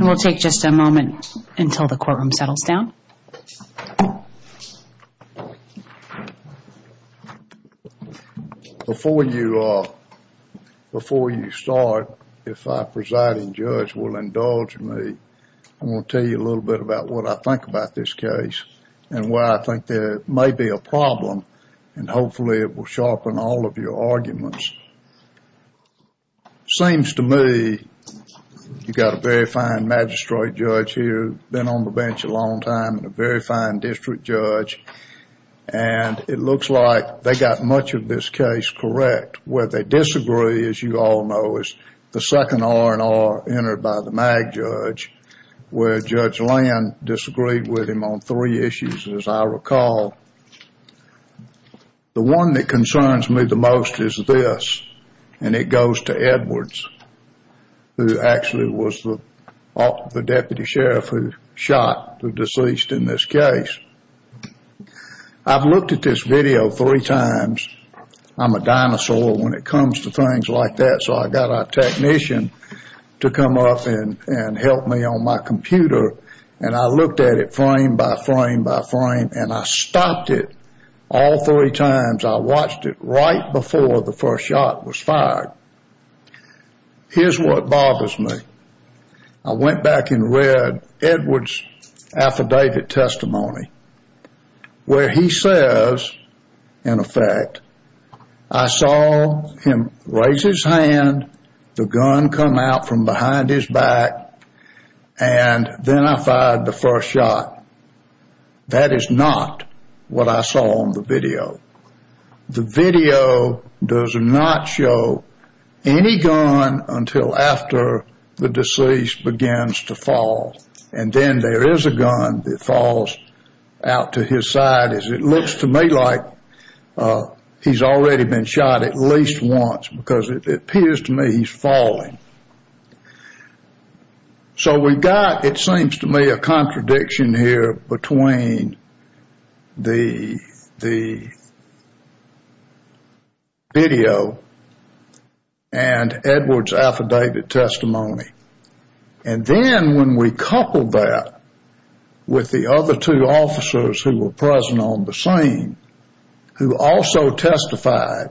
We'll take just a moment until the courtroom settles down. Before you start, if our presiding judge will indulge me, I want to tell you a little bit about what I think about this case and why I think there may be a problem, and hopefully it will sharpen all of your arguments. Seems to me you've got a very fine magistrate judge here, been on the bench a long time, and a very fine district judge, and it looks like they got much of this case correct. Where they disagree, as you all know, is the second R&R entered by the MAG judge, where Judge Land disagreed with him on three issues, as I recall. The one that concerns me the most is this, and it goes to Edwards, who actually was the deputy sheriff who shot the deceased in this case. I've looked at this video three times. I'm a dinosaur when it comes to things like that, so I've got a technician to come up and help me on my computer, and I looked at it frame by frame by frame, and I stopped it all three times. I watched it right before the first shot was fired. Here's what bothers me. I went back and read Edwards' affidavit testimony, where he says, in effect, I saw him raise his hand, the gun come out from behind his back, and then I fired the first shot. That is not what I saw on the video. The video does not show any gun until after the deceased begins to fall, and then there is a gun that falls out to his side, as it looks to me like he's already been shot at because it appears to me he's falling. So we've got, it seems to me, a contradiction here between the video and Edwards' affidavit testimony, and then when we couple that with the other two officers who were present on the scene who also testified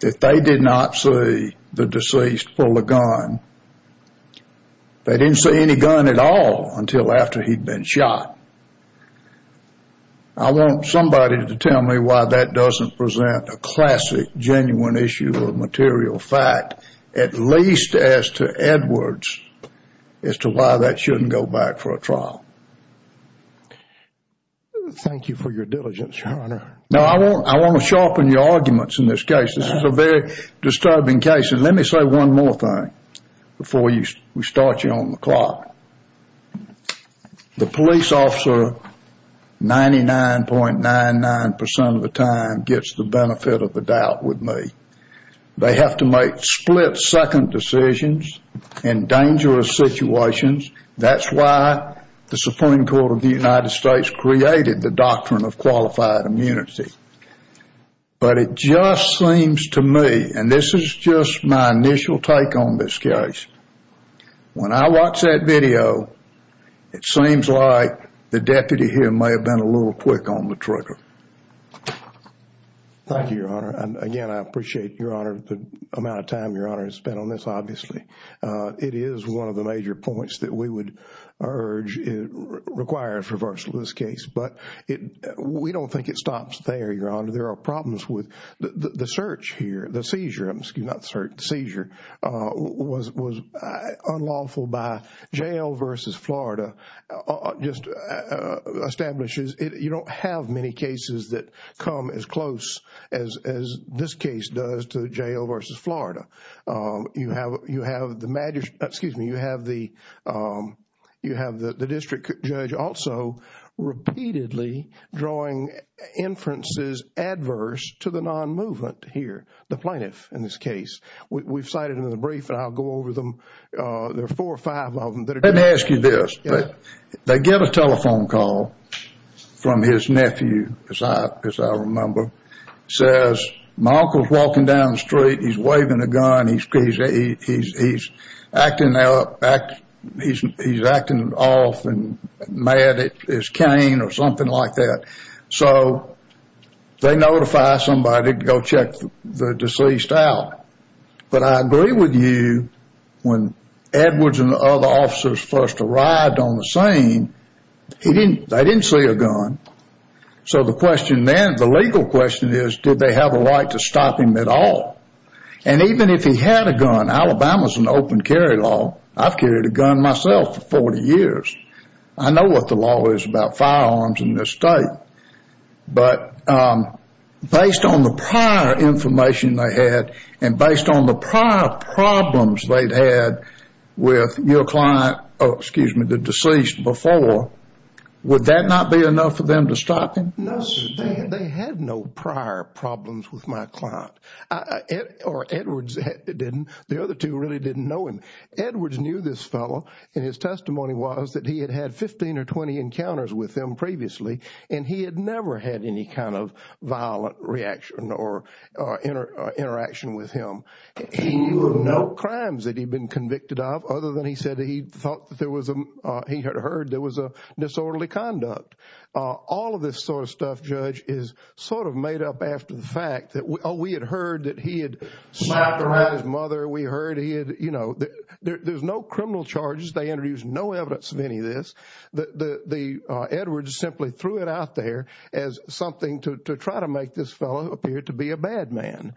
that they did not see the deceased pull the gun, they didn't see any gun at all until after he'd been shot. I want somebody to tell me why that doesn't present a classic, genuine issue of material fact, at least as to Edwards, as to why that shouldn't go back for a trial. Thank you for your diligence, Your Honor. Now, I want to sharpen your arguments in this case. This is a very disturbing case, and let me say one more thing before we start you on the clock. The police officer, 99.99% of the time, gets the benefit of the doubt with me. They have to make split-second decisions in dangerous situations. That's why the Supreme Court of the United States created the doctrine of qualified immunity. But it just seems to me, and this is just my initial take on this case, when I watch that video, it seems like the deputy here may have been a little quick on the trigger. Thank you, Your Honor. Again, I appreciate, Your Honor, the amount of time Your Honor has spent on this, obviously. It is one of the major points that we would urge requires reversal of this case. But we don't think it stops there, Your Honor. There are problems with the search here, the seizure, excuse me, not the search, the seizure, was unlawful by jail versus Florida, just establishes, you don't have many cases that come as close as this case does to jail versus Florida. You have the district judge also repeatedly drawing inferences adverse to the non-movement here, the plaintiff in this case. We've cited in the brief, and I'll go over them, there are four or five of them that are- Let me ask you this. They get a telephone call from his nephew, as I remember, says, my uncle's walking down the street, he's waving a gun, he's acting off and mad at his cane or something like that. So they notify somebody to go check the deceased out. But I agree with you, when Edwards and the other officers first arrived on the scene, they didn't see a gun. So the question then, the legal question is, did they have a right to stop him at all? And even if he had a gun, Alabama's an open carry law, I've carried a gun myself for 40 years. I know what the law is about firearms in this state. But based on the prior information they had, and based on the prior problems they'd had with your client, excuse me, the deceased before, would that not be enough for them to stop him? No, sir. They had no prior problems with my client, or Edwards didn't, the other two really didn't know him. Edwards knew this fellow, and his testimony was that he had had 15 or 20 encounters with them previously, and he had never had any kind of violent reaction or interaction with him. He knew of no crimes that he'd been convicted of, other than he said that he thought that there was a, he had heard there was a disorderly conduct. All of this sort of stuff, Judge, is sort of made up after the fact that, oh, we had heard that he had slapped around his mother, we heard he had, you know, there's no criminal charges, they introduced no evidence of any of this. The Edwards simply threw it out there as something to try to make this fellow appear to be a bad man.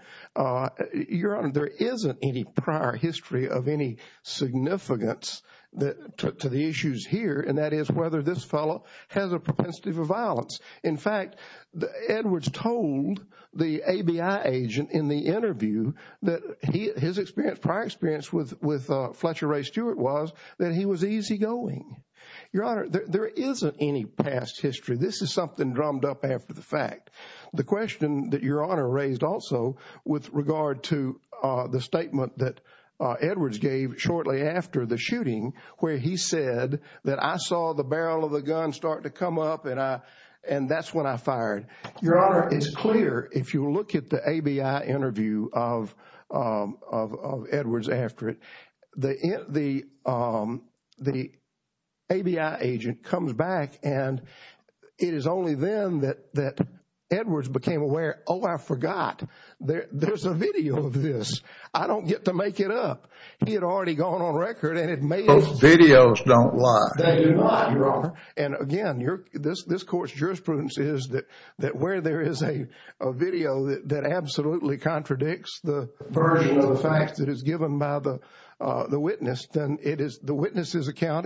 Your Honor, there isn't any prior history of any significance to the issues here, and that is whether this fellow has a propensity for violence. In fact, Edwards told the ABI agent in the interview that his prior experience with Fletcher Ray Stewart was that he was easygoing. Your Honor, there isn't any past history. This is something drummed up after the fact. The question that Your Honor raised also with regard to the statement that Edwards gave shortly after the shooting where he said that I saw the barrel of the gun start to come up and I, and that's when I fired. Your Honor, it's clear if you look at the ABI interview of Edwards after it, the ABI agent comes back and it is only then that Edwards became aware, oh, I forgot, there's a video of this. I don't get to make it up. He had already gone on record and it made it... Those videos don't lie. They do not, Your Honor. And again, this court's jurisprudence is that where there is a video that absolutely contradicts the version of the facts that is given by the witness, then it is the witness's account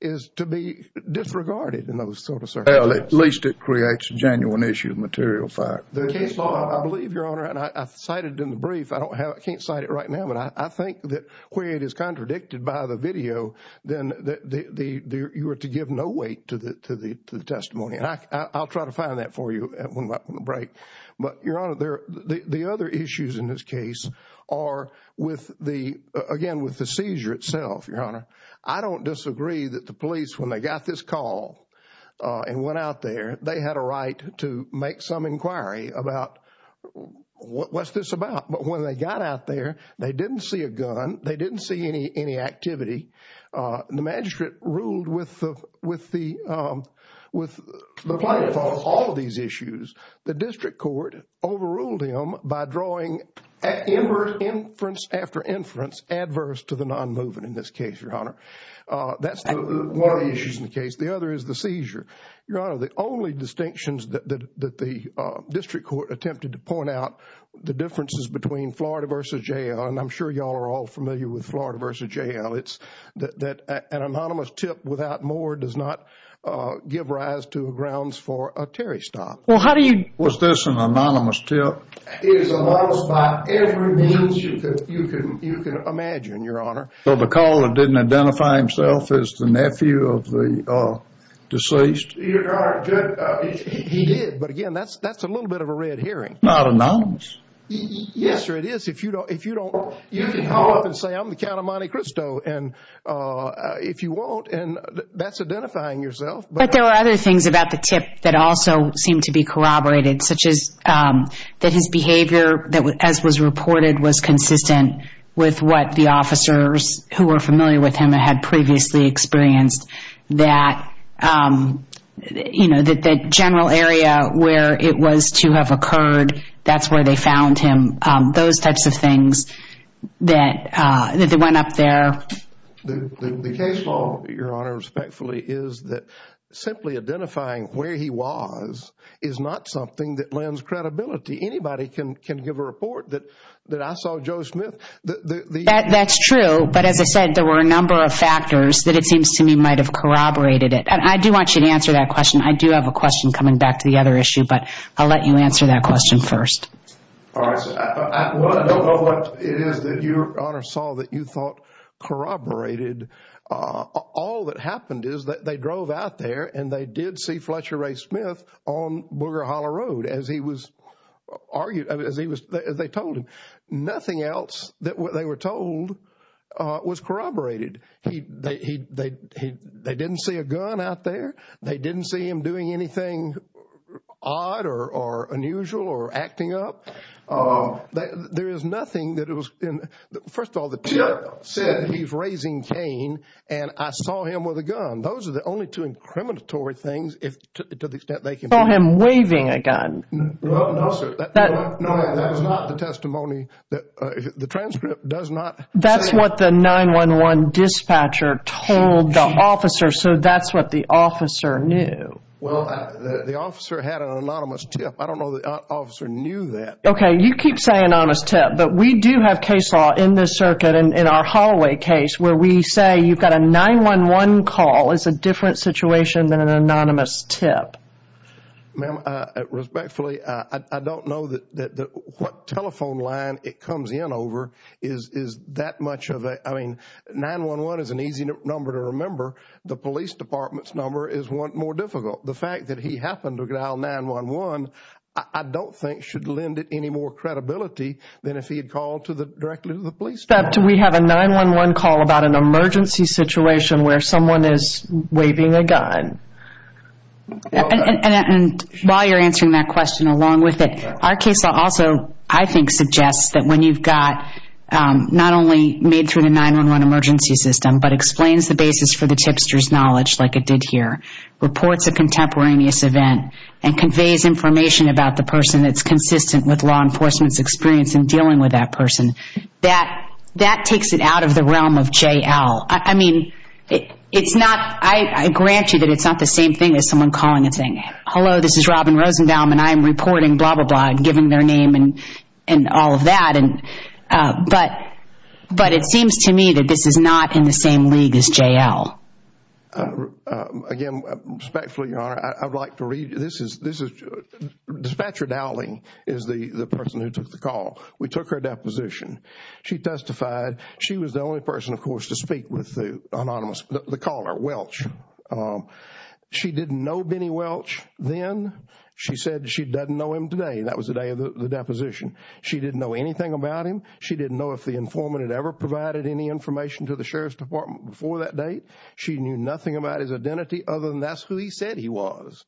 is to be disregarded in those sort of circumstances. Well, at least it creates a genuine issue of material fact. I believe, Your Honor, and I cited in the brief, I can't cite it right now, but I think that where it is contradicted by the video, then you are to give no weight to the testimony. And I'll try to find that for you when we're up on the break. But Your Honor, the other issues in this case are with the, again, with the seizure itself, Your Honor. I don't disagree that the police, when they got this call and went out there, they had a right to make some inquiry about what's this about. But when they got out there, they didn't see a gun. They didn't see any activity. The magistrate ruled with the... Okay. All of these issues. The district court overruled him by drawing inference after inference adverse to the nonmoving in this case, Your Honor. That's one of the issues in the case. The other is the seizure. Your Honor, the only distinctions that the district court attempted to point out, the differences between Florida v. Jail, and I'm sure you all are all familiar with Florida v. Jail, it's that an anonymous tip without more does not give rise to grounds for a Terry stop. Well, how do you... Was this an anonymous tip? It is anonymous by every means you can imagine, Your Honor. So the caller didn't identify himself as the nephew of the deceased? Your Honor, he did, but again, that's a little bit of a red herring. Not anonymous. Yes, sir. It is. If you don't... You can call up and say, I'm the Count of Monte Cristo, and if you won't, and that's identifying yourself. But there were other things about the tip that also seemed to be corroborated, such as that his behavior, as was reported, was consistent with what the officers who were familiar with him and had previously experienced, that general area where it was to have occurred, that's where they found him, those types of things that went up there. The case law, Your Honor, respectfully, is that simply identifying where he was is not something that lends credibility. Anybody can give a report that I saw Joe Smith... That's true. But as I said, there were a number of factors that it seems to me might have corroborated it. I do want you to answer that question. I do have a question coming back to the other issue, but I'll let you answer that question first. All right, sir. I don't know what it is that you, Your Honor, saw that you thought corroborated. All that happened is that they drove out there and they did see Fletcher Ray Smith on Booger Holler Road as he was argued, as they told him. Nothing else that they were told was corroborated. They didn't see a gun out there. They didn't see him doing anything odd or unusual or acting up. There is nothing that it was... First of all, the jury said he's raising cane, and I saw him with a gun. Those are the only two incriminatory things, to the extent they can... I saw him waving a gun. No, sir. That was not the testimony that... The transcript does not... That's what the 911 dispatcher told the officer, so that's what the officer knew. The officer had an anonymous tip. I don't know the officer knew that. Okay. You keep saying anonymous tip, but we do have case law in this circuit, in our Holloway case, where we say you've got a 911 call, it's a different situation than an anonymous tip. Ma'am, respectfully, I don't know what telephone line it comes in over is that much of a... 911 is an easy number to remember. The police department's number is more difficult. The fact that he happened to dial 911, I don't think should lend it any more credibility than if he had called directly to the police department. Except we have a 911 call about an emergency situation where someone is waving a gun. While you're answering that question, along with it, our case law also, I think, suggests that when you've got... not only made through the 911 emergency system, but explains the basis for the tipster's knowledge, like it did here, reports a contemporaneous event, and conveys information about the person that's consistent with law enforcement's experience in dealing with that person. That takes it out of the realm of J.L. I mean, it's not... I grant you that it's not the same thing as someone calling and saying, hello, this is Robin Rosendahl, and I'm reporting blah, blah, blah, and giving their name and all of that. But it seems to me that this is not in the same league as J.L. Again, respectfully, Your Honor, I'd like to read... this is... dispatcher Dowling is the person who took the call. We took her deposition. She testified. She was the only person, of course, to speak with the anonymous... the caller, Welch. She didn't know Benny Welch then. She said she doesn't know him today. That was the day of the deposition. She didn't know anything about him. She didn't know if the informant had ever provided any information to the Sheriff's Department before that date. She knew nothing about his identity other than that's who he said he was.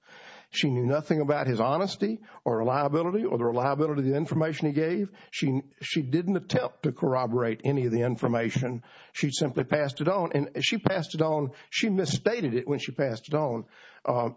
She knew nothing about his honesty or reliability or the reliability of the information he gave. She didn't attempt to corroborate any of the information. She simply passed it on, and she passed it on... she misstated it when she passed it on.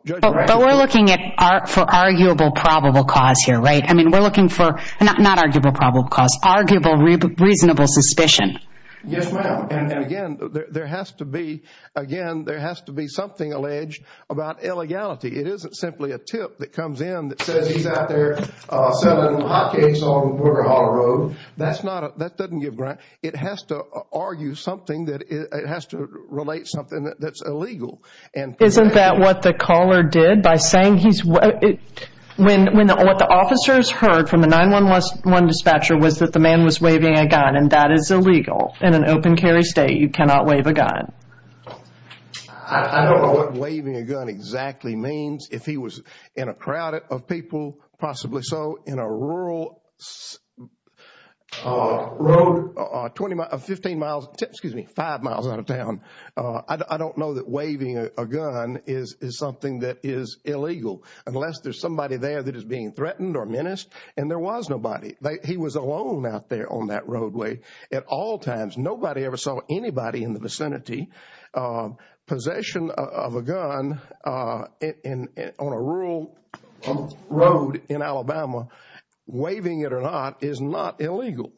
Judge... But we're looking at... for arguable probable cause here, right? I mean, we're looking for... not arguable probable cause, arguable reasonable suspicion. Yes, ma'am, and again, there has to be... again, there has to be something alleged about illegality. It isn't simply a tip that comes in that says he's out there selling hotcakes on Porter Hall Road. That's not... that doesn't give... it has to argue something that... it has to relate something that's illegal. Isn't that what the caller did by saying he's... when... what the officers heard from the 9-1-1 dispatcher was that the man was waving a gun, and that is illegal in an open carry state. You cannot wave a gun. I don't know what waving a gun exactly means. If he was in a crowd of people, possibly so, in a rural road, 15 miles... excuse me, 5 miles out of town, I don't know that waving a gun is something that is illegal unless there's somebody there that is being threatened or menaced, and there was nobody. He was alone out there on that roadway at all times. Nobody ever saw anybody in the vicinity. Possession of a gun on a rural road in Alabama, waving it or not, is not illegal.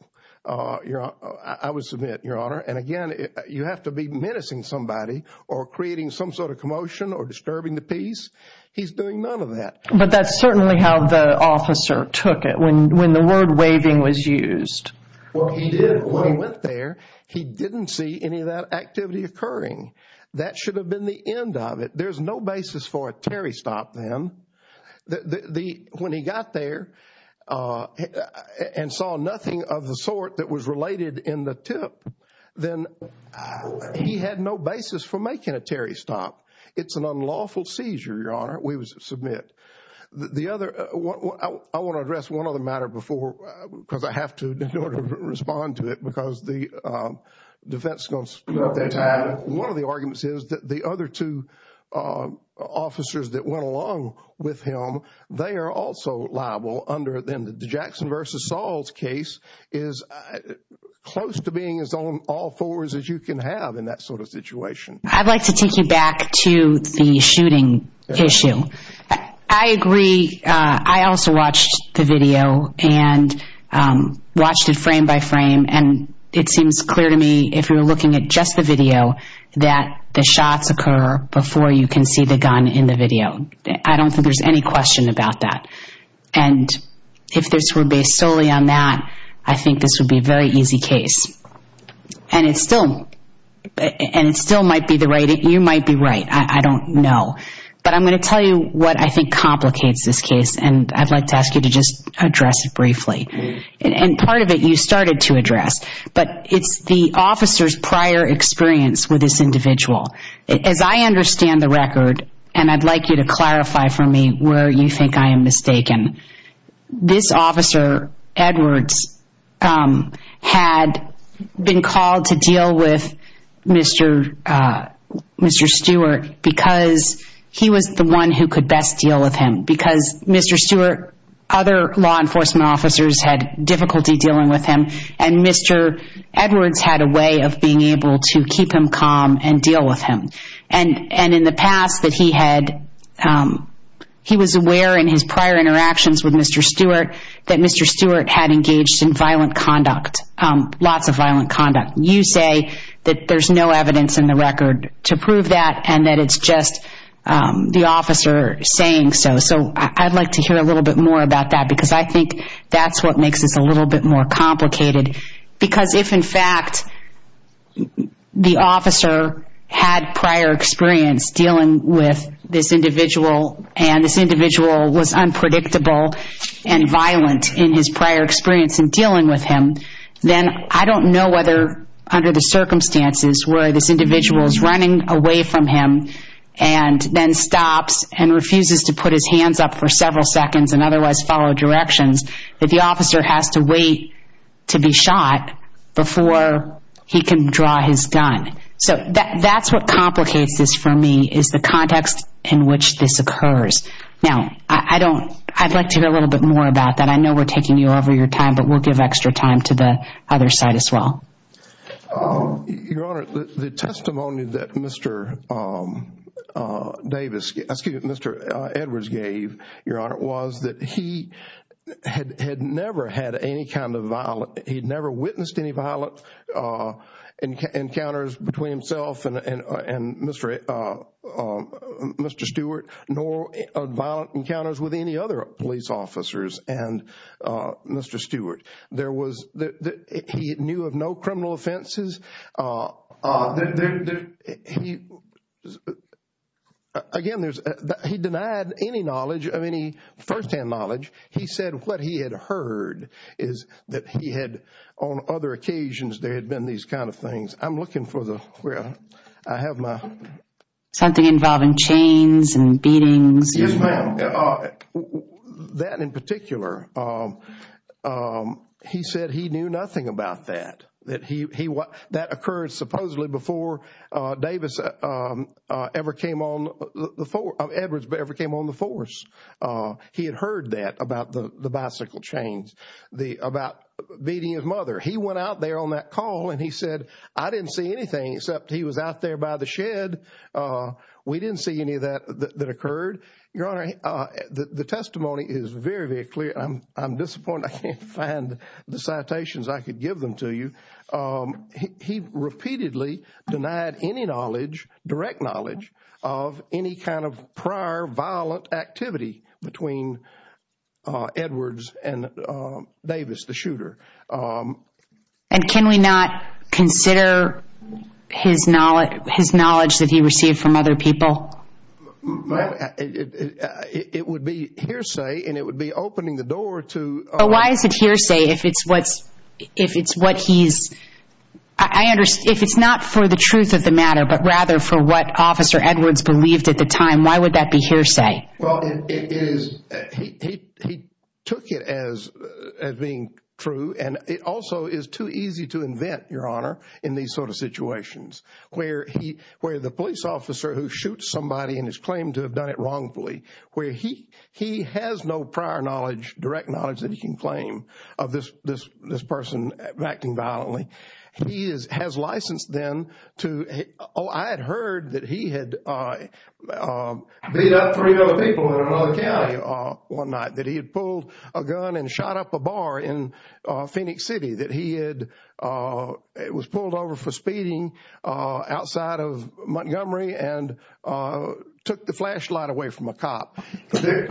I would submit, Your Honor, and again, you have to be menacing somebody or creating some sort of commotion or disturbing the peace. He's doing none of that. But that's certainly how the officer took it, when the word waving was used. When he went there, he didn't see any of that activity occurring. That should have been the end of it. There's no basis for a Terry stop then. When he got there and saw nothing of the sort that was related in the tip, then he had no basis for making a Terry stop. It's an unlawful seizure, Your Honor, we submit. I want to address one other matter before, because I have to in order to respond to it, because the defense... One of the arguments is that the other two officers that went along with him, they are also liable under the Jackson versus Saul's case is close to being as on all fours as you can have in that sort of situation. I'd like to take you back to the shooting issue. I agree. I also watched the video and watched it frame by frame, and it seems clear to me, if you're looking at just the video, that the shots occur before you can see the gun in the video. I don't think there's any question about that. If this were based solely on that, I think this would be a very easy case, and it still might be the right... You might be right, I don't know, but I'm going to tell you what I think complicates this case, and I'd like to ask you to just address it briefly. Part of it you started to address, but it's the officer's prior experience with this individual. As I understand the record, and I'd like you to clarify for me where you think I am mistaken, this officer, Edwards, had been called to deal with Mr. Stewart because he was the one who could best deal with him, because Mr. Stewart, other law enforcement officers had difficulty dealing with him, and Mr. Edwards had a way of being able to keep him calm and deal with him. In the past, he was aware in his prior interactions with Mr. Stewart that Mr. Stewart had engaged in violent conduct, lots of violent conduct. You say that there's no evidence in the record to prove that, and that it's just the officer saying so. I'd like to hear a little bit more about that, because I think that's what makes this a little bit more complicated, because if, in fact, the officer had prior experience dealing with this individual, and this individual was unpredictable and violent in his prior experience in dealing with him, then I don't know whether under the circumstances where this individual is running away from him and then stops and refuses to put his hands up for several seconds and waits to be shot before he can draw his gun. That's what complicates this for me, is the context in which this occurs. Now, I'd like to hear a little bit more about that. I know we're taking you over your time, but we'll give extra time to the other side as well. Your Honor, the testimony that Mr. Edwards gave, Your Honor, was that he had never had any kind of violent... He'd never witnessed any violent encounters between himself and Mr. Stewart, nor violent encounters with any other police officers and Mr. Stewart. There was... He knew of no criminal offenses. Again, there's... He denied any knowledge of any firsthand knowledge. He said what he had heard is that he had, on other occasions, there had been these kind of things. I'm looking for the... I have my... Something involving chains and beatings. Yes, ma'am. That in particular, he said he knew nothing about that. That occurred supposedly before Davis ever came on the... Edwards ever came on the force. He had heard that about the bicycle chains, about beating his mother. He went out there on that call and he said, I didn't see anything except he was out there by the shed. We didn't see any of that that occurred. Your Honor, the testimony is very, very clear. I'm disappointed I can't find the citations I could give them to you. He repeatedly denied any knowledge, direct knowledge, of any kind of prior violent activity between Edwards and Davis, the shooter. Can we not consider his knowledge that he received from other people? It would be hearsay and it would be opening the door to... Why is it hearsay if it's what he's... If it's not for the truth of the matter but rather for what Officer Edwards believed at the time, why would that be hearsay? Well, it is... He took it as being true and it also is too easy to invent, Your Honor, in these sort of situations where the police officer who shoots somebody and is claimed to have done it wrongfully, where he has no prior knowledge, direct knowledge that he can claim of this person acting violently. He has licensed them to... I had heard that he had beat up three other people in another county one night, that he had pulled a gun and shot up a bar in Phoenix City, that he had... It was pulled over for speeding outside of Montgomery and took the flashlight away from a cop.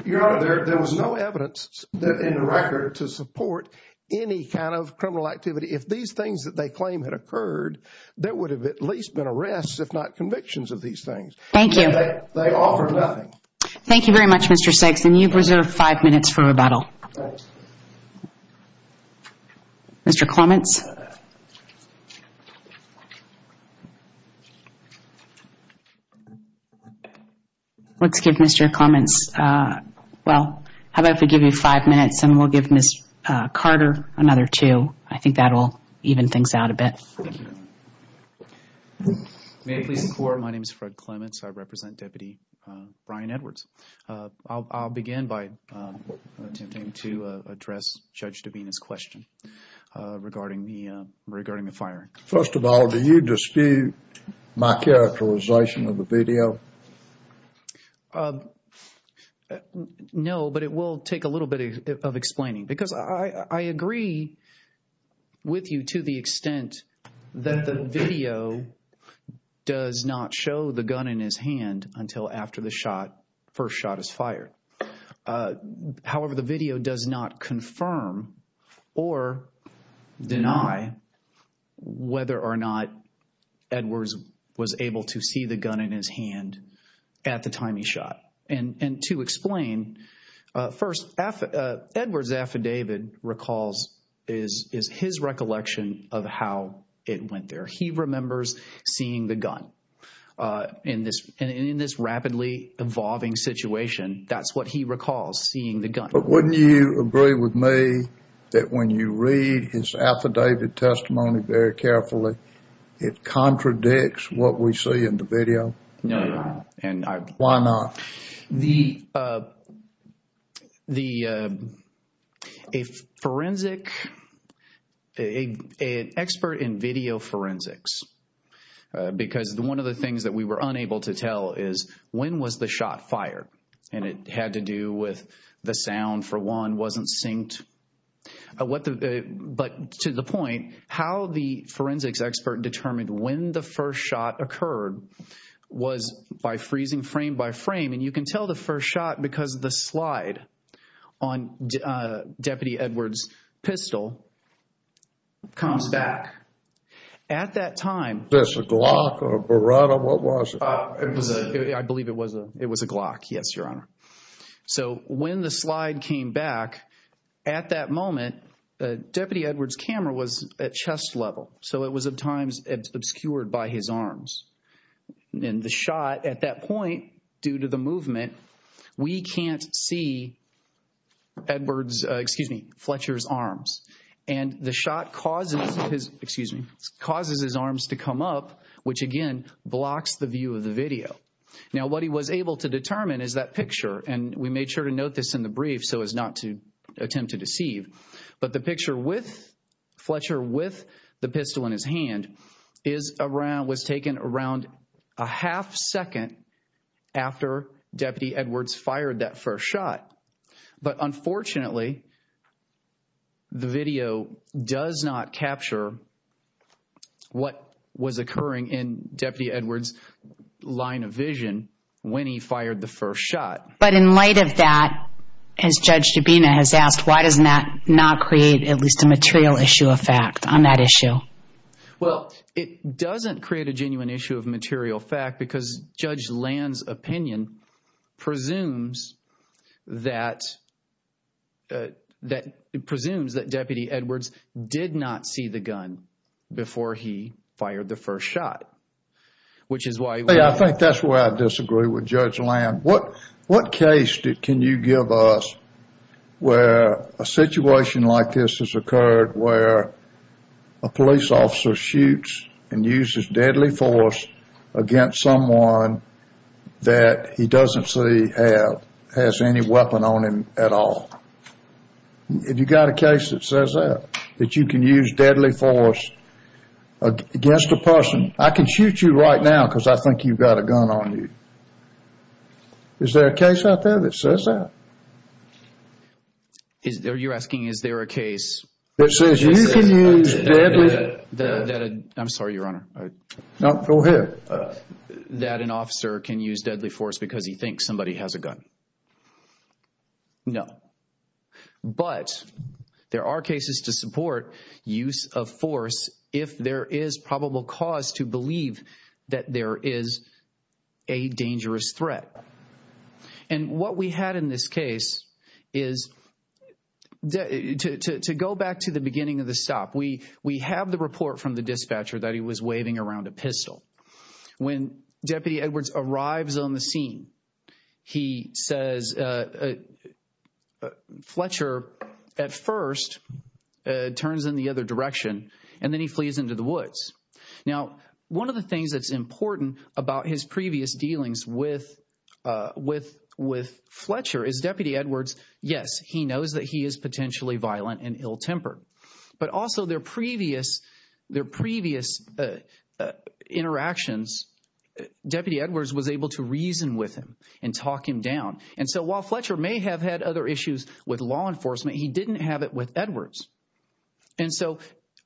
Your Honor, there was no evidence in the record to support any kind of criminal activity. If these things that they claim had occurred, there would have at least been arrests, if not convictions of these things. Thank you. They offered nothing. Thank you very much, Mr. Six. You've reserved five minutes for rebuttal. Mr. Clements. Let's give Mr. Clements... Well, how about if we give you five minutes and we'll give Ms. Carter another two. I think that will even things out a bit. Thank you, Your Honor. May it please the Court, my name is Fred Clements. I represent Deputy Brian Edwards. I'll begin by attempting to address Judge Divena's question regarding the fact that regarding the firing. First of all, do you dispute my characterization of the video? No, but it will take a little bit of explaining. Because I agree with you to the extent that the video does not show the gun in his hand until after the first shot is fired. However, the video does not confirm or deny whether or not Edwards was able to see the gun in his hand at the time he shot. And to explain, first, Edwards' affidavit recalls his recollection of how it went there. He remembers seeing the gun in this rapidly evolving situation. That's what he recalls seeing the gun. But wouldn't you agree with me that when you read his affidavit testimony very carefully, it contradicts what we see in the video? No, Your Honor. And I... Why not? The... a forensic... an expert in video forensics. Because one of the things that we were unable to tell is when was the shot fired? And it had to do with the sound, for one. Wasn't synced. But to the point, how the forensics expert determined when the first shot occurred was by freezing frame by frame. And you can tell the first shot because the slide on Deputy Edwards' pistol comes back at that time. That's a Glock or a Beretta? What was it? I believe it was a Glock. Yes, Your Honor. So when the slide came back, at that moment, Deputy Edwards' camera was at chest level. So it was at times obscured by his arms. And the shot at that point, due to the movement, we can't see Edwards'... excuse me, Fletcher's arms. And the shot causes his... excuse me... causes his arms to come up, which again blocks the view of the video. Now, what he was able to determine is that picture. And we made sure to note this in the brief so as not to attempt to deceive. But the picture with Fletcher, with the pistol in his hand, was taken around a half second after Deputy Edwards fired that first shot. But unfortunately, the video does not capture what was occurring in Deputy Edwards' line of vision when he fired the first shot. But in light of that, as Judge Dubina has asked, why doesn't that not create at least a material issue of fact on that issue? Well, it doesn't create a genuine issue of material fact because Judge Land's opinion presumes that Deputy Edwards did not see the gun before he fired the first shot, which is why- Yeah, I think that's where I disagree with Judge Land. What case can you give us where a situation like this has occurred where a police officer shoots and uses deadly force against someone that he doesn't see has any weapon on him at all? Have you got a case that says that? That you can use deadly force against a person? I can shoot you right now because I think you've got a gun on you. Is there a case out there that says that? You're asking is there a case- That says you can use deadly- I'm sorry, Your Honor. No, go ahead. That an officer can use deadly force because he thinks somebody has a gun? No. But there are cases to support use of force if there is probable cause to believe that there is a dangerous threat. And what we had in this case is that to go back to the beginning of the stop, we have the report from the dispatcher that he was waving around a pistol. When Deputy Edwards arrives on the scene, he says Fletcher at first turns in the other direction, and then he flees into the woods. Now, one of the things that's important about his previous dealings with Fletcher is Deputy knows that he is potentially violent and ill-tempered. But also their previous interactions, Deputy Edwards was able to reason with him and talk him down. And so while Fletcher may have had other issues with law enforcement, he didn't have it with Edwards. And so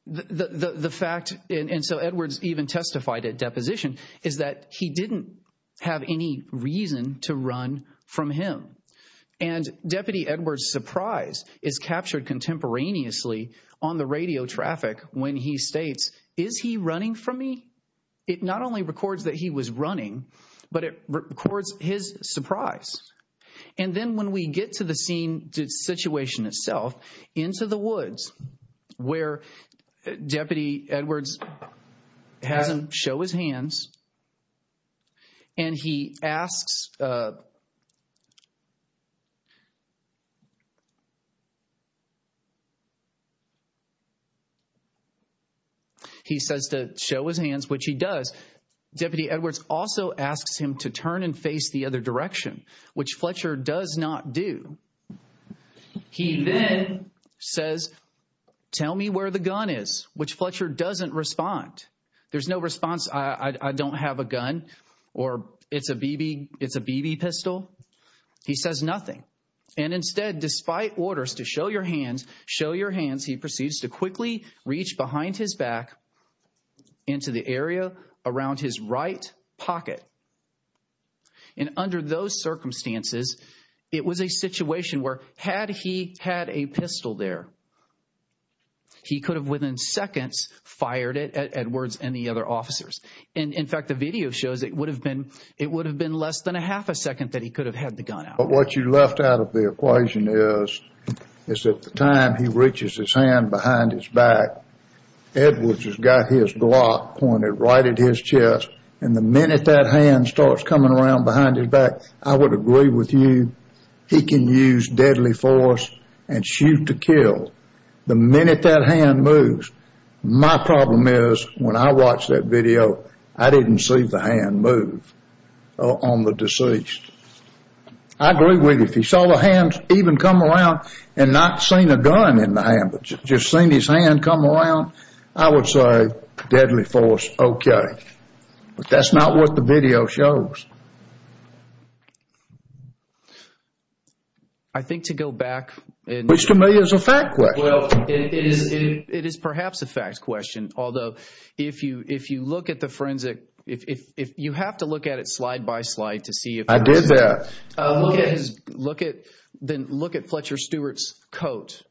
the fact- And so Edwards even testified at deposition is that he didn't have any reason to run from him. And Deputy surprise is captured contemporaneously on the radio traffic when he states, is he running from me? It not only records that he was running, but it records his surprise. And then when we get to the scene, the situation itself into the woods where Deputy Edwards hasn't show his hands. And he asks, he says to show his hands, which he does. Deputy Edwards also asks him to turn and face the other direction, which Fletcher does not do. He then says, tell me where the gun is, which Fletcher doesn't respond. There's no response. I don't have a gun or it's a BB, it's a BB pistol. He says nothing. And instead, despite orders to show your hands, show your hands, he proceeds to quickly reach behind his back into the area around his right pocket. And under those circumstances, it was a situation where had he had a pistol there, he could have within seconds fired it at Edwards and the other officers. And in fact, the video shows it would have been, it would have been less than a half a second that he could have had the gun out. But what you left out of the equation is, is that the time he reaches his hand behind his back, Edwards has got his block pointed right at his chest. And the minute that hand starts coming around behind his back, I would agree with you. He can use deadly force and shoot to kill. The minute that hand moves, my problem is when I watched that video, I didn't see the hand move on the deceased. I agree with you. If he saw the hands even come around and not seen a gun in the hand, but just seen his hand come around, I would say deadly force, okay. But that's not what the it is. It is perhaps a fact question. Although if you, if you look at the forensic, if you have to look at it slide by slide to see if I did that, look at, look at, then look at Fletcher Stewart's coat.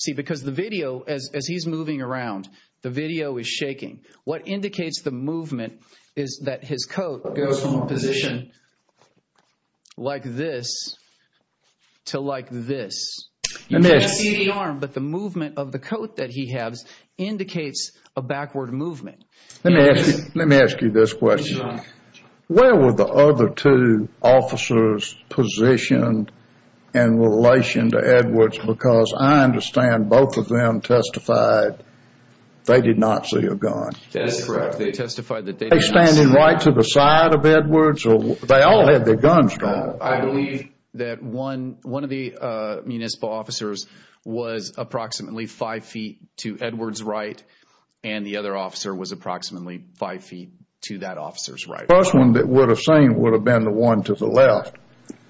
See, because the video, as he's moving around, the video is shaking. What indicates the movement is that his coat goes from a position like this to like this. You can't see the arm, but the movement of the coat that he has indicates a backward movement. Let me ask you, let me ask you this question. Where were the other two officers positioned in relation to Edwards? Because I understand both of them testified they did not see a gun. That is correct. They testified that they standing right to the side of Edwards or they all had their guns drawn. I believe that one of the municipal officers was approximately five feet to Edwards' right and the other officer was approximately five feet to that officer's right. First one that would have seen would have been the one to the left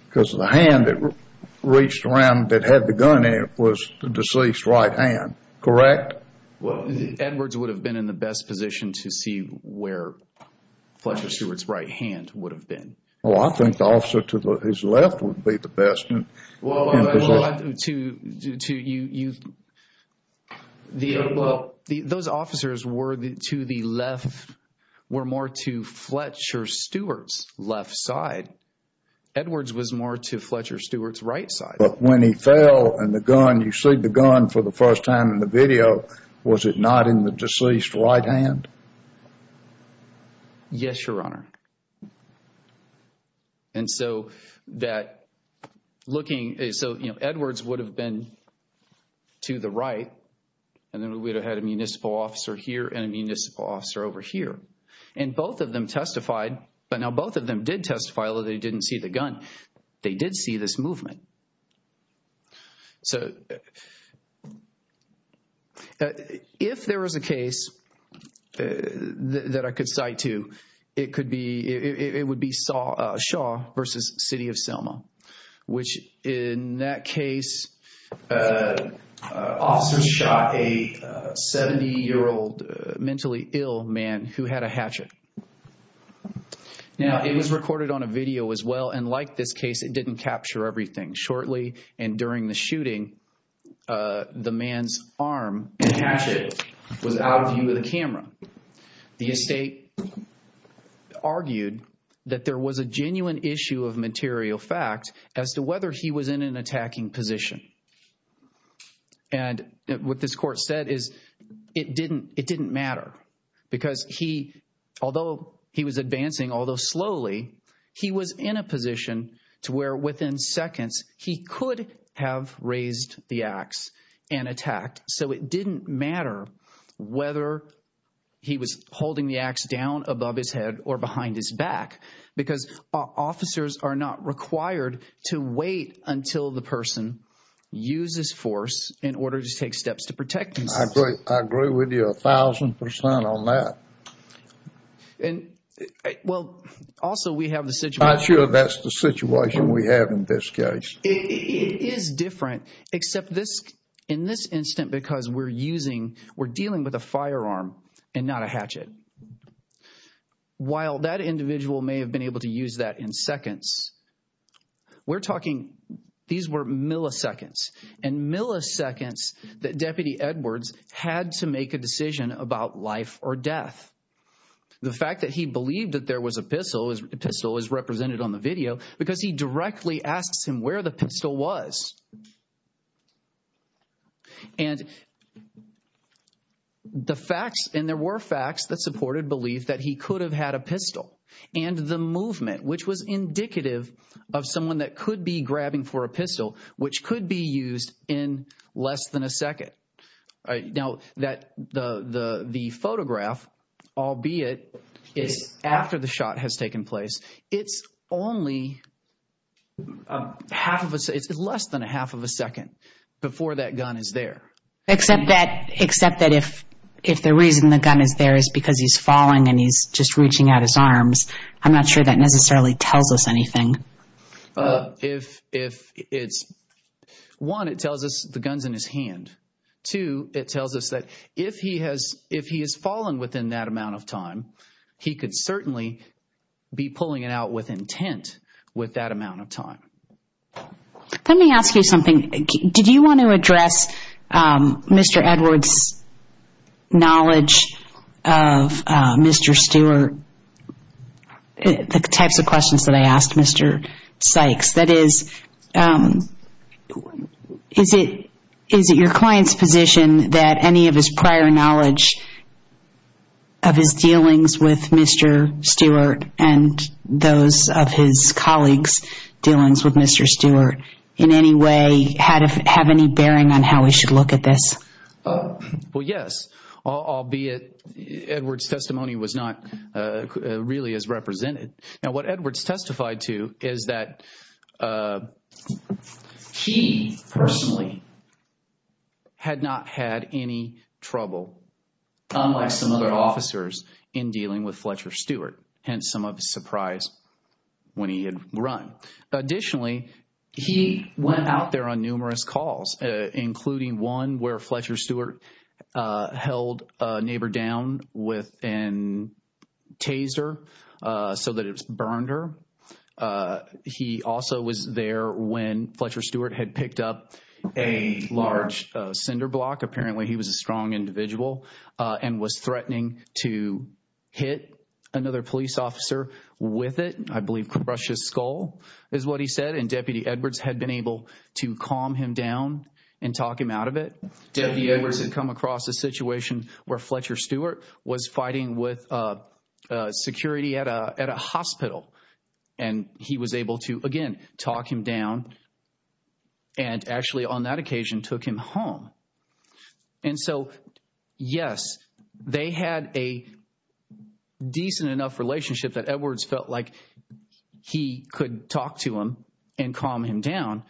because the hand that reached around that had the gun in it was the deceased's right hand, correct? Edwards would have been in the best position to see where Fletcher Stewart's right hand would have been. Well, I think the officer to his left would be the best. Well, those officers were to the left, were more to Fletcher Stewart's left side. Edwards was more to Fletcher Stewart's right side. But when he fell and the gun, you see the gun for the first time in the video, was it not in the deceased's right hand? Yes, Your Honor. And so that looking, so Edwards would have been to the right and then we would have had a municipal officer here and a municipal officer over here. And both of them testified, but now both of them did testify although they didn't see the gun, they did see this movement. So, if there was a case that I could cite to, it would be Shaw versus City of Selma, which in that case, officers shot a 70-year-old mentally ill man who had a hatchet. Now, it was recorded on a video as well and like this case, it didn't capture everything. Shortly and during the shooting, the man's arm and hatchet was out of view of the camera. The estate argued that there was a genuine issue of material fact as to whether he was in an attacking position. And what this court said is it didn't matter because he, although he was he could have raised the axe and attacked. So, it didn't matter whether he was holding the axe down above his head or behind his back because officers are not required to wait until the person uses force in order to take steps to protect himself. I agree with you a thousand percent on that. And well, also we have the situation. I'm sure that's the situation we have in this case. It is different except this in this instance because we're using, we're dealing with a firearm and not a hatchet. While that individual may have been able to use that in seconds, we're talking, these were milliseconds and milliseconds that Deputy Edwards had to make a decision about life or death. The fact that he believed that there was a pistol is represented on the video because he directly asks him where the pistol was. And the facts and there were facts that supported belief that he could have had a pistol and the movement which was indicative of someone that could be grabbing for a pistol which could be shot has taken place. It's only half of a, it's less than a half of a second before that gun is there. Except that, except that if the reason the gun is there is because he's falling and he's just reaching out his arms. I'm not sure that necessarily tells us anything. If it's, one, it tells us the gun's in his hand. Two, it tells us that if he has, if he has fallen within that be pulling it out with intent with that amount of time. Let me ask you something. Did you want to address Mr. Edwards' knowledge of Mr. Stewart, the types of questions that I asked Mr. Sykes? That is, is it, is it your client's position that any of his prior knowledge of his dealings with Mr. Stewart and those of his colleagues' dealings with Mr. Stewart in any way had, have any bearing on how we should look at this? Well, yes, albeit Edwards' testimony was not really as represented. Now what Edwards testified to is that he personally had not had any trouble, unlike some other officers, in dealing with Fletcher Stewart, hence some of the surprise when he had run. Additionally, he went out there on numerous calls, including one where Fletcher Stewart held a neighbor down with a taser so that it burned her. He also was there when Fletcher Stewart had picked up a large cinder block. Apparently he was a strong individual and was threatening to hit another police officer with it. I believe crush his skull is what he said. And Deputy Edwards had been able to calm him down and talk him out of it. Deputy Edwards had come across a situation where Fletcher Stewart was fighting with security at a hospital and he was able to, again, talk him down and actually on that occasion took him home. And so, yes, they had a decent enough relationship that Edwards felt like he could talk to him and calm him down.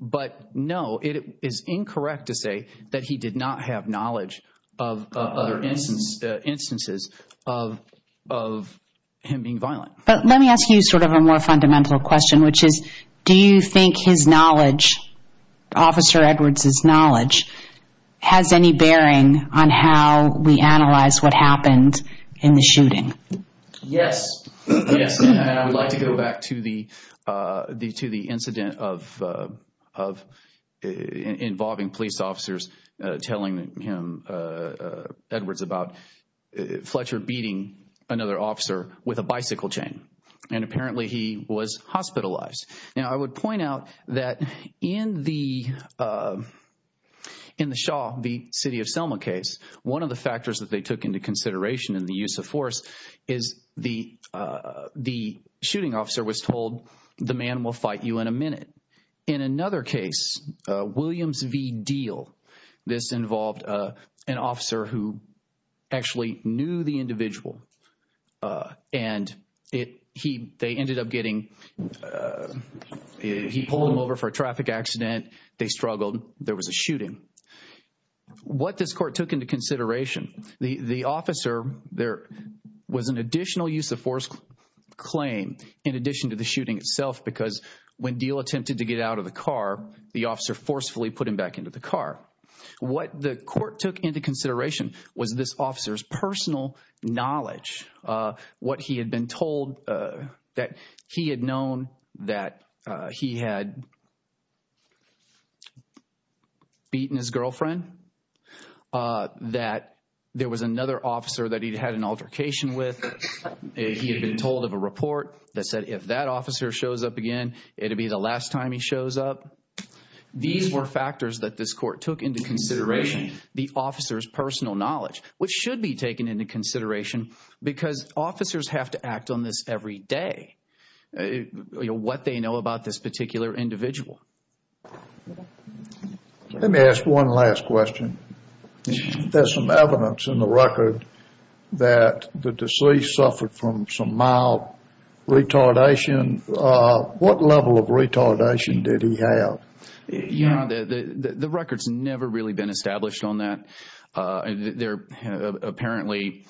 But no, it is incorrect to say that he did not have knowledge of other instances of him being violent. But let me ask you sort of a more fundamental question, which is, do you think his knowledge, Officer Edwards's knowledge, has any bearing on how we analyze what happened in the shooting? Yes. Yes. And I would like to go back to the incident of involving police officers telling him, Edwards, about Fletcher beating another officer with a bicycle chain. And apparently he was hospitalized. Now, I would point out that in the Shaw v. City of Selma case, one of the factors that they took into consideration in the use of force is the shooting officer was told, the man will fight you in a minute. In another case, Williams v. Deal, this involved an officer who actually knew the individual and they ended up getting, he pulled them over for a traffic accident, they struggled, there was a shooting. What this court took into consideration, the officer, there was an additional use of force claim in addition to the shooting itself because when Deal attempted to get out of the car, the officer forcefully put him back into the car. What the court took into consideration was this officer's personal knowledge, what he had been told that he had known that he had been beaten his girlfriend, that there was another officer that he'd had an altercation with, he had been told of a report that said if that officer shows up again, it'd be the last time he shows up. These were factors that this court took into consideration, the officer's personal knowledge, which should be taken into consideration because officers have to act on this every day. You know, what they know about this particular individual. Let me ask one last question. There's some evidence in the record that the deceased suffered from some mild retardation. What level of retardation did he have? Yeah, the record's never really been established on that. Apparently,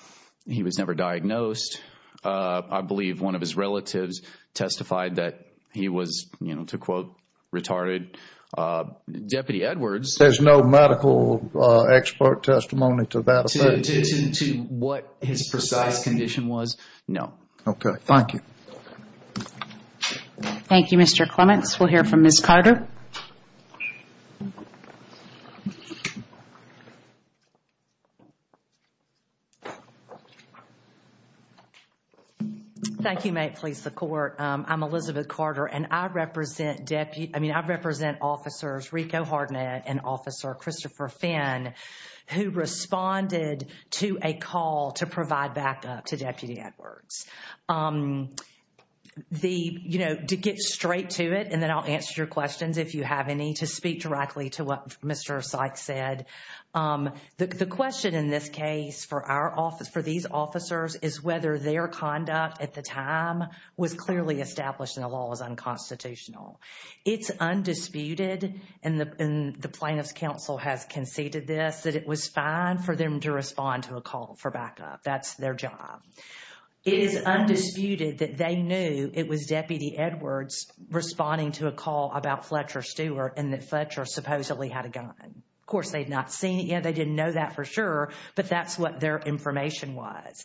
he was never diagnosed. I believe one of his relatives testified that he was, you know, to quote, retarded. Deputy Edwards. There's no medical expert testimony to that? To what his precise condition was? No. Okay, thank you. Thank you, Mr. Clements. We'll hear from Ms. Carter. Thank you, May it please the court. I'm Elizabeth Carter and I represent Deputy, I mean, I represent Officers Rico Hardnett and Officer Christopher Finn, who responded to a call to provide backup to Deputy Edwards. The, you know, to get straight to it, and then I'll answer your questions if you have any, to speak directly to what Mr. Sykes said. The question in this case for our office, for these officers, is whether their conduct at the time was clearly established in the law as unconstitutional. It's undisputed, and the plaintiff's counsel has conceded this, that it was fine for them to respond to a call for backup. That's their job. It is undisputed that they knew it was Deputy Edwards responding to a call about Fletcher Stewart and that Fletcher supposedly had a gun. Of course, they'd not seen it yet, they didn't know that for sure, but that's what their information was.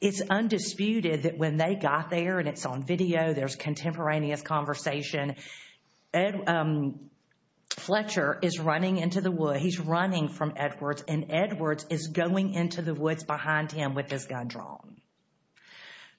It's undisputed that when they got there, and it's on video, there's contemporaneous conversation, Fletcher is running into the woods, he's running from Edwards, and Edwards is going into the woods behind him with his gun drawn.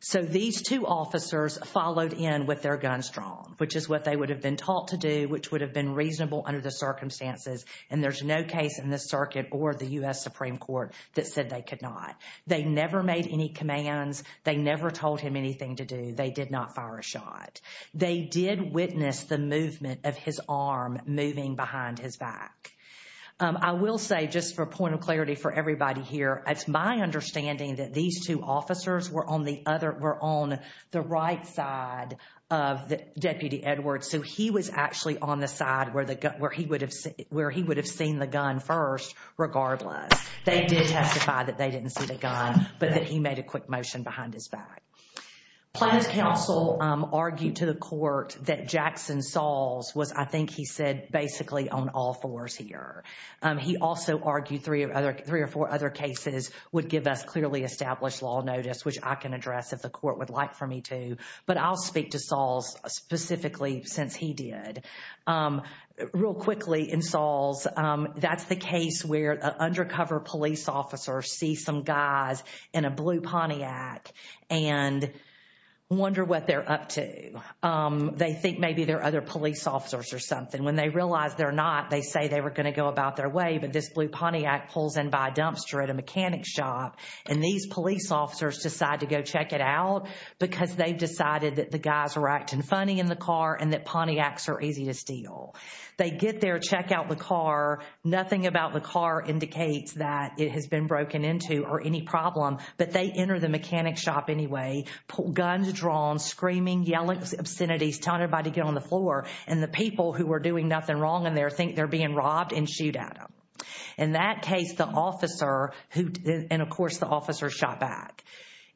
So, these two officers followed in with their guns drawn, which is what they would have been taught to do, which would have been reasonable under the circumstances, and there's no case in the circuit or the U.S. Supreme Court that said they could not. They never made any commands, they never told him anything to do, they did not fire a shot. They did witness the movement of his arm moving behind his back. I will say, just for point of clarity for everybody here, it's my understanding that these two officers were on the right side of Deputy Edwards, so he was actually on the side where he would have seen the gun first, regardless. They did testify that they didn't see the gun, but that he made a quick motion behind his back. Plans Council argued to the court that Jackson Salls was, I think he said, basically on all fours here. He also argued three or four other cases would give us clearly established law notice, which I can address if the court would like for me to, but I'll speak to Salls specifically since he did. Real quickly in Salls, that's the case where an undercover police officer sees some guys in a blue Pontiac and wonder what they're up to. They think maybe they're other police officers or something. When they realize they're not, they say they were going to go about their way, but this blue Pontiac pulls in by a dumpster at a mechanic's shop, and these police officers decide to go check it out because they've decided that the guys are acting funny in the car and that Pontiacs are easy to steal. They get there, check out the car, nothing about the car indicates that it has been broken into or any problem, but they enter the mechanic's shop anyway, guns drawn, screaming, yelling obscenities, telling everybody to get on the floor, and the people who were doing nothing wrong in there think they're being robbed and shoot at them. In that case, the officer who, and of course the officer shot back.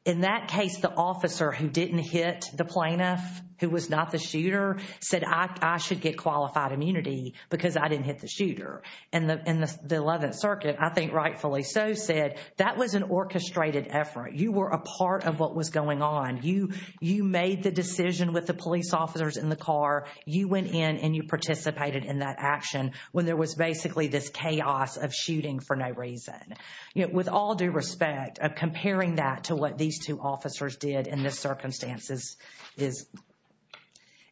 In that case, the officer who didn't hit the plaintiff, who was not the shooter, said I should get qualified immunity because I didn't hit the shooter. And the 11th Circuit, I think rightfully so, said that was an orchestrated effort. You were a part of what was going on. You made the decision with the police officers in the car. You went in and you participated in that action when there was to what these two officers did in the circumstances is,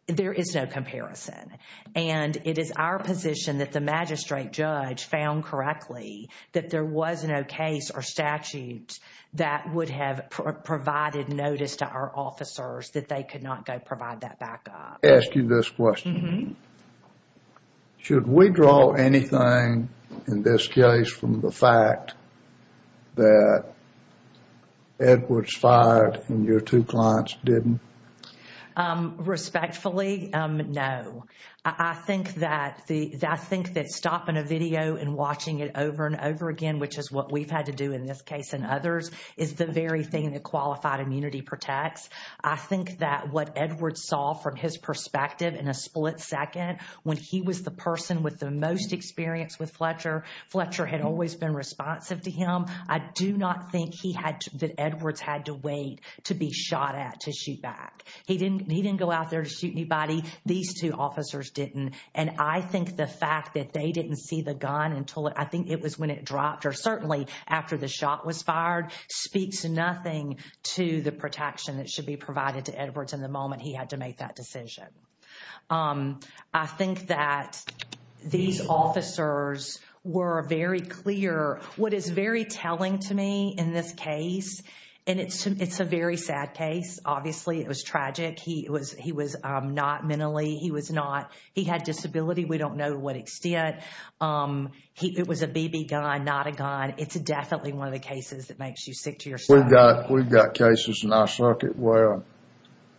there is no comparison. And it is our position that the magistrate judge found correctly that there was no case or statute that would have provided notice to our officers that they could not go provide that backup. Ask you this question. Should we draw anything in this case from the fact that Edwards fired and your two clients didn't? Respectfully, no. I think that stopping a video and watching it over and over again, which is what we've had to do in this case and others, is the very thing that qualified immunity protects. I think that what Edwards saw from his perspective in a split second, when he was the person with the most experience with Fletcher, Fletcher had always been responsive to him. I do not think he had, that Edwards had to wait to be shot at to shoot back. He didn't go out there to shoot anybody. These two officers didn't. And I think the fact that they didn't see the gun until, I think it was when it dropped or certainly after the shot was fired, speaks nothing to the protection that should be provided to Edwards in the moment he had to make that decision. I think that these officers were very clear. What is very telling to me in this case, and it's a very sad case, obviously it was tragic. He was not mentally, he was not, he had disability. We don't know what extent. But it was a BB gun, not a gun. It's definitely one of the cases that makes you sick to your stomach. We've got cases in our circuit where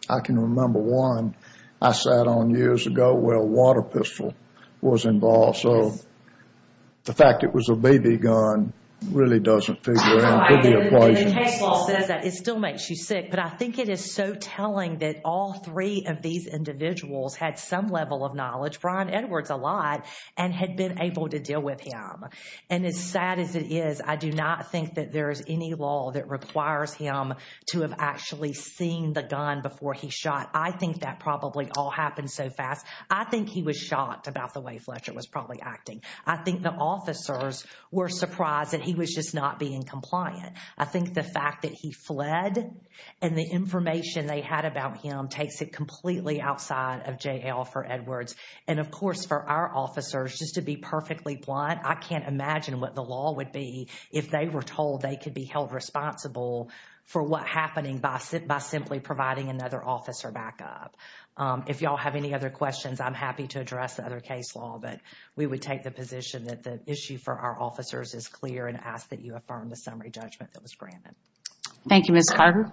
I can remember one I sat on years ago where a water pistol was involved. So the fact it was a BB gun really doesn't figure in with the equation. It still makes you sick. But I think it is so telling that all three of these individuals had some level of knowledge, Brian Edwards a lot, and had been able to deal with him. And as sad as it is, I do not think that there is any law that requires him to have actually seen the gun before he shot. I think that probably all happened so fast. I think he was shocked about the way Fletcher was probably acting. I think the officers were surprised that he was just not being compliant. I think the fact that he fled and the information they had about him takes it for Edwards. And of course for our officers, just to be perfectly blunt, I can't imagine what the law would be if they were told they could be held responsible for what happening by simply providing another officer back up. If y'all have any other questions, I'm happy to address the other case law. But we would take the position that the issue for our officers is clear and ask that you affirm the summary judgment that was granted. Thank you, Ms. Carter.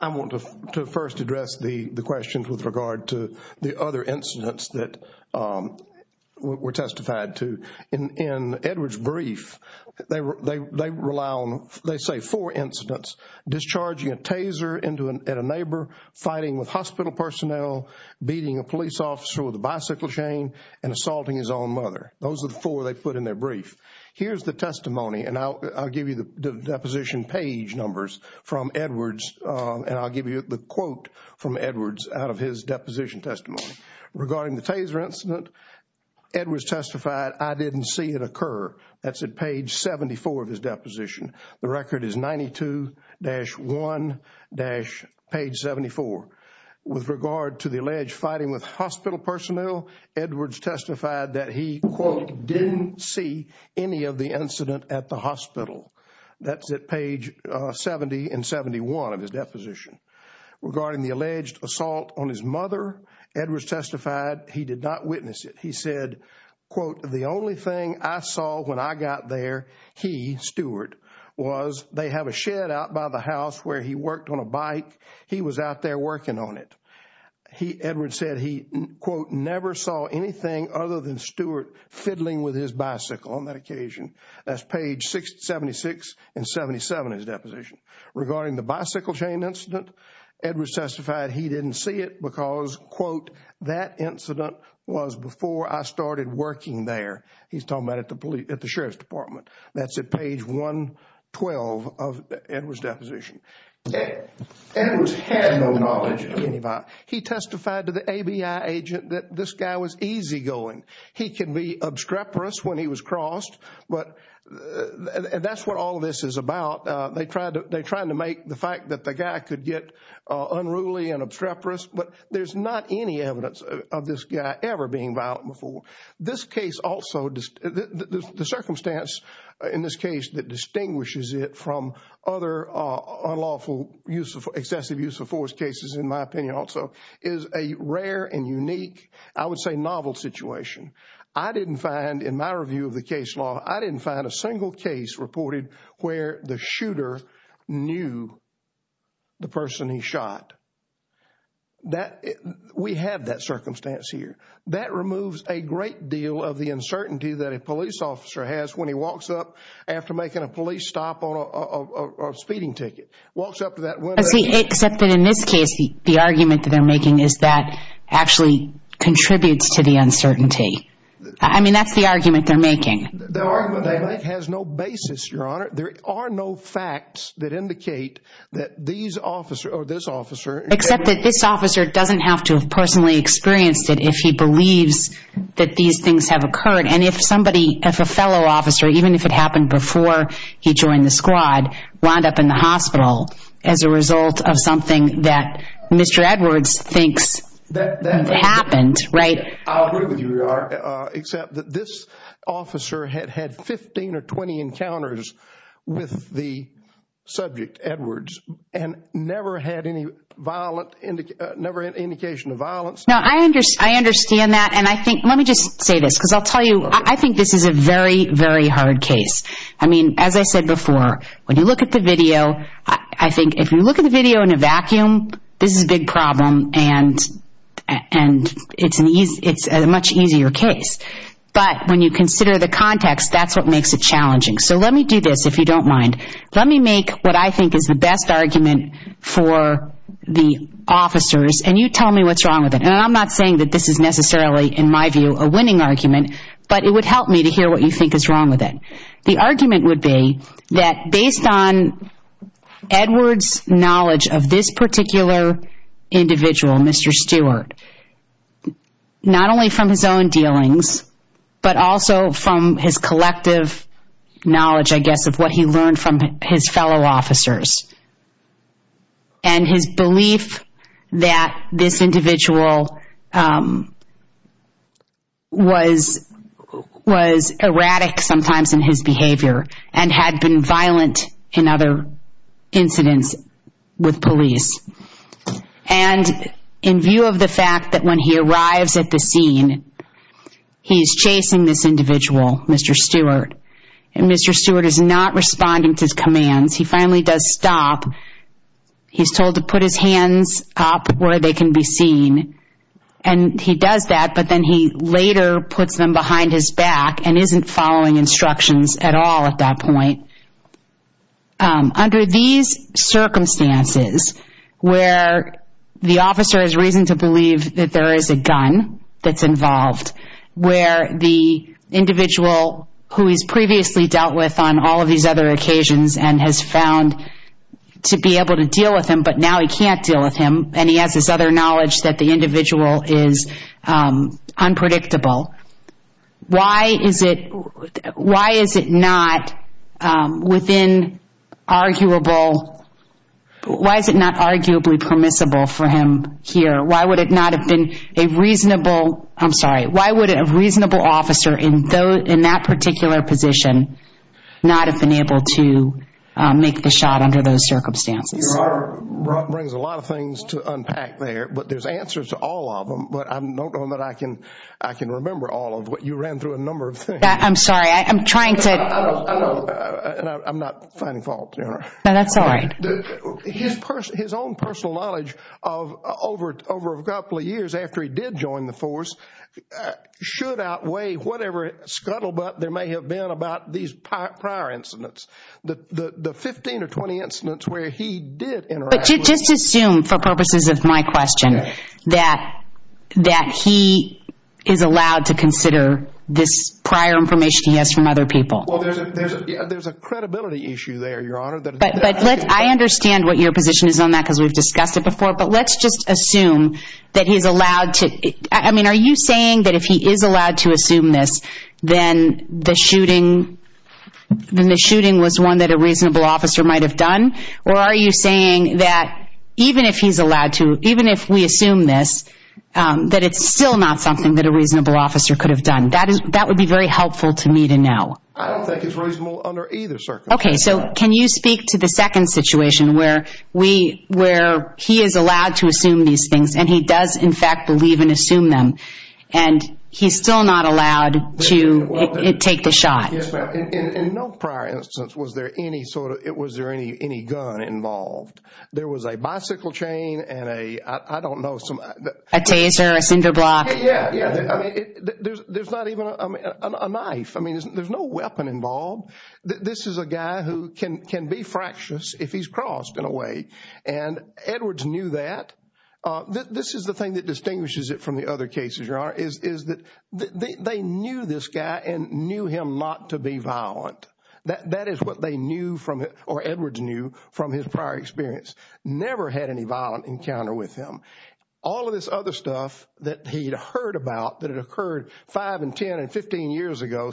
I want to first address the questions with regard to the other incidents that were testified to. In Edwards' brief, they say four incidents, discharging a taser at a neighbor, fighting with hospital personnel, beating a police officer with a bicycle chain, and assaulting his own mother. Those are the four they put in their brief. Here's the testimony, and I'll give you the deposition page numbers from Edwards, and I'll give you the quote from Edwards out of his deposition testimony. Regarding the taser incident, Edwards testified, I didn't see it occur. That's at page 74 of his deposition. The record is 92-1-page 74. With regard to the alleged fighting with hospital personnel, Edwards testified that he, quote, didn't see any of the incident at the hospital. That's at page 70 and 71 of his deposition. Regarding the alleged assault on his mother, Edwards testified he did not witness it. He said, quote, the only thing I saw when I got there, he, Stewart, was they have a shed out by the house where he worked on a bike. He was out there working on it. Edwards said he, quote, never saw anything other than Stewart fiddling with his bicycle on that occasion. That's page 76 and 77 of his deposition. Regarding the bicycle chain incident, Edwards testified he didn't see it because, quote, that incident was before I started working there. He's talking about it at the Sheriff's Department. That's at page 112 of Edwards' deposition. Edwards had no knowledge of He can be obscreporious when he was crossed, but that's what all of this is about. They tried to make the fact that the guy could get unruly and obscreporious, but there's not any evidence of this guy ever being violent before. This case also, the circumstance in this case that distinguishes it from other unlawful excessive use of force cases, in my opinion, also is a rare and unique, I would say novel situation. I didn't find, in my review of the case law, I didn't find a single case reported where the shooter knew the person he shot. We have that circumstance here. That removes a great deal of the uncertainty that a police officer has when he walks up after making a police stop on a speeding ticket, walks up to that window. See, except that in this case, the argument that they're making is that actually contributes to the uncertainty. I mean, that's the argument they're making. The argument they make has no basis, Your Honor. There are no facts that indicate that these officers or this officer... Except that this officer doesn't have to have personally experienced it if he believes that these things have occurred. And if somebody, if a fellow officer, even if it happened before he joined the squad, wound up in the hospital as a result of something that Mr. Edwards thinks happened, right? I'll agree with you, Your Honor, except that this officer had had 15 or 20 encounters with the subject, Edwards, and never had any indication of violence. No, I understand that. And I think, let me just say this, because I'll tell you, I think this is a very, very hard case. I mean, as I said before, when you look at the video, I think if you look at the video in a vacuum, this is a big problem, and it's a much easier case. But when you consider the context, that's what makes it challenging. So let me do this, if you don't mind. Let me make what I think is the best argument for the officers, and you tell me what's wrong with it. And I'm not saying that this is necessarily, in my view, a winning argument, but it would help me to hear what you is wrong with it. The argument would be that based on Edwards' knowledge of this particular individual, Mr. Stewart, not only from his own dealings, but also from his collective knowledge, I guess, of what he learned from his fellow officers, and his belief that this sometimes in his behavior, and had been violent in other incidents with police. And in view of the fact that when he arrives at the scene, he's chasing this individual, Mr. Stewart, and Mr. Stewart is not responding to his commands. He finally does stop. He's told to put his hands up where they can be seen. And he does that, but then he later puts them behind his back, and isn't following instructions at all at that point. Under these circumstances, where the officer has reason to believe that there is a gun that's involved, where the individual who he's previously dealt with on all of these other occasions, and has found to be able to deal with him, but now he can't deal with him, and he has this other gun, why is it not arguably permissible for him here? Why would a reasonable officer in that particular position not have been able to make the shot under those circumstances? Your Honor, Rob brings a lot of things to unpack there, but there's answers to all of them. But I can remember all of what you ran through a number of things. I'm sorry, I'm trying to... I'm not finding fault, Your Honor. No, that's all right. His own personal knowledge over a couple of years after he did join the force should outweigh whatever scuttlebutt there may have been about these prior incidents. The 15 or 20 incidents where he did interact... Just assume, for purposes of my question, that he is allowed to consider this prior information he has from other people. There's a credibility issue there, Your Honor. I understand what your position is on that, because we've discussed it before. But let's just assume that he's allowed to... I mean, are you saying that if he is allowed to assume this, then the shooting was one that a reasonable officer might have done? Or are you saying that even if he's allowed to, even if we assume this, that it's still not something that a reasonable officer could have done? That would be very helpful to me to know. I don't think it's reasonable under either circumstance. Okay, so can you speak to the second situation where he is allowed to assume these things, and he does, in fact, believe and assume them, and he's still not allowed to take the shot? In no prior instance was there any gun involved. There was a bicycle chain and a, I don't know... A taser, a cinder block. Yeah, yeah. There's not even a knife. I mean, there's no weapon involved. This is a guy who can be fractious if he's crossed in a way, and Edwards knew that. This is the thing that distinguishes it from the other cases, Your Honor, is that they knew this guy and knew him not to be violent. That is what they knew from, or Edwards knew from his prior experience. Never had any violent encounter with him. All of this other stuff that he'd heard about, that had occurred five and 10 and 15 years ago,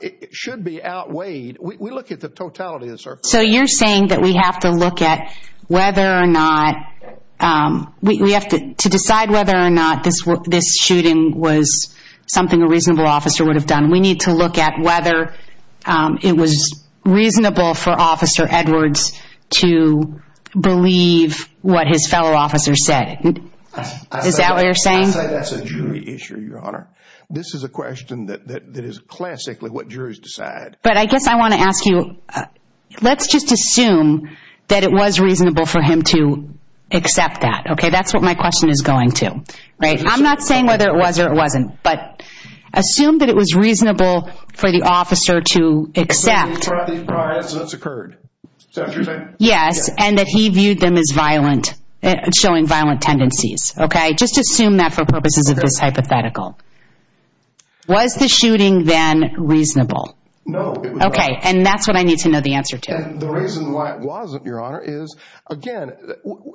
it should be outweighed. We look at the totality of the circumstances. So you're saying that we have to look at whether or not... We have to decide whether or not this shooting was something a reasonable officer would have done. We need to look at whether it was reasonable for Officer Edwards to believe what his fellow officers said. Is that what you're saying? I say that's a jury issue, Your Honor. This is a question that is classically what juries decide. But I guess I want to ask you, let's just assume that it was reasonable for him to but assume that it was reasonable for the officer to accept... So he's tried these prior incidents that occurred. Is that what you're saying? Yes, and that he viewed them as showing violent tendencies. Just assume that for purposes of this hypothetical. Was the shooting then reasonable? No, it was not. Okay, and that's what I need to know the answer to. The reason why it wasn't, Your Honor, is again,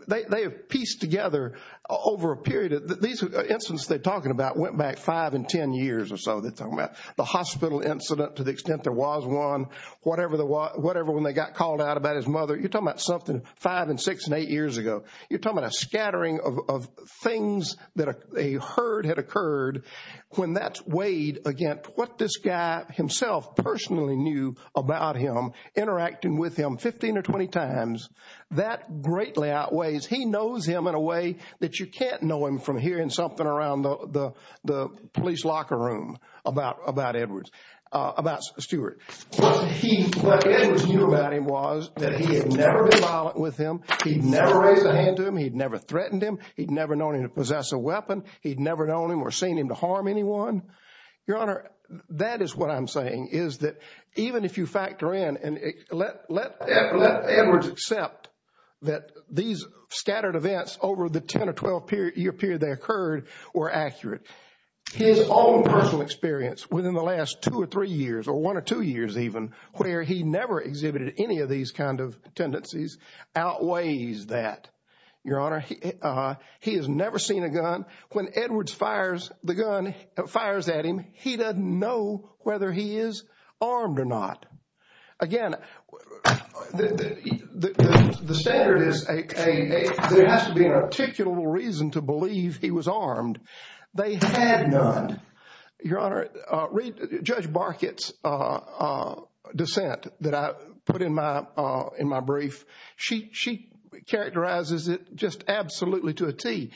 they have pieced together over a period of... These incidents they're talking about went back five and ten years or so. They're talking about the hospital incident, to the extent there was one, whatever when they got called out about his mother. You're talking about something five and six and eight years ago. You're talking about a scattering of things that a herd had occurred. When that's weighed against what this guy himself personally knew about him, interacting with him 15 or 20 times, that greatly outweighs. He knows him in a way that you can't know him from hearing something around the police locker room about Edward, about Stewart. What Edward knew about him was that he had never been violent with him. He'd never raised a hand to him. He'd never threatened him. He'd never known him to possess a weapon. He'd never known him or seen him to harm anyone. Your Honor, that is what I'm saying, is that even if you factor in and let Edward accept that these scattered events over the 10 or 12 year period they occurred were accurate. His own personal experience within the last two or three years, or one or two years even, where he never exhibited any of these kind of tendencies outweighs that. Your Honor, he has never seen a gun. When Edward fires the gun, fires at him, he doesn't know whether he is armed or not. Again, the standard is there has to be an articulable reason to believe he was armed. They had none. Your Honor, read Judge Barkett's dissent that I put in my brief. She characterizes it just absolutely to a T.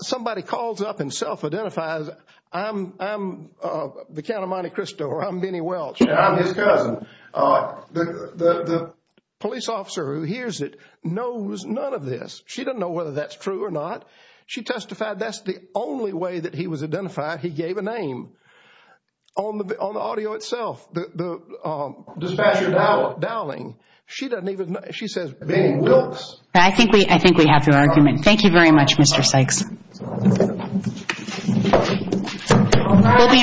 Somebody calls up and identifies I'm the Count of Monte Cristo, or I'm Benny Welch. I'm his cousin. The police officer who hears it knows none of this. She doesn't know whether that's true or not. She testified that's the only way that he was identified. He gave a name on the audio itself. The dispatcher dowling. She doesn't even know. She says Benny Welch. I think we have to argument. Thank you very much, Mr. Sykes. We'll be in recess.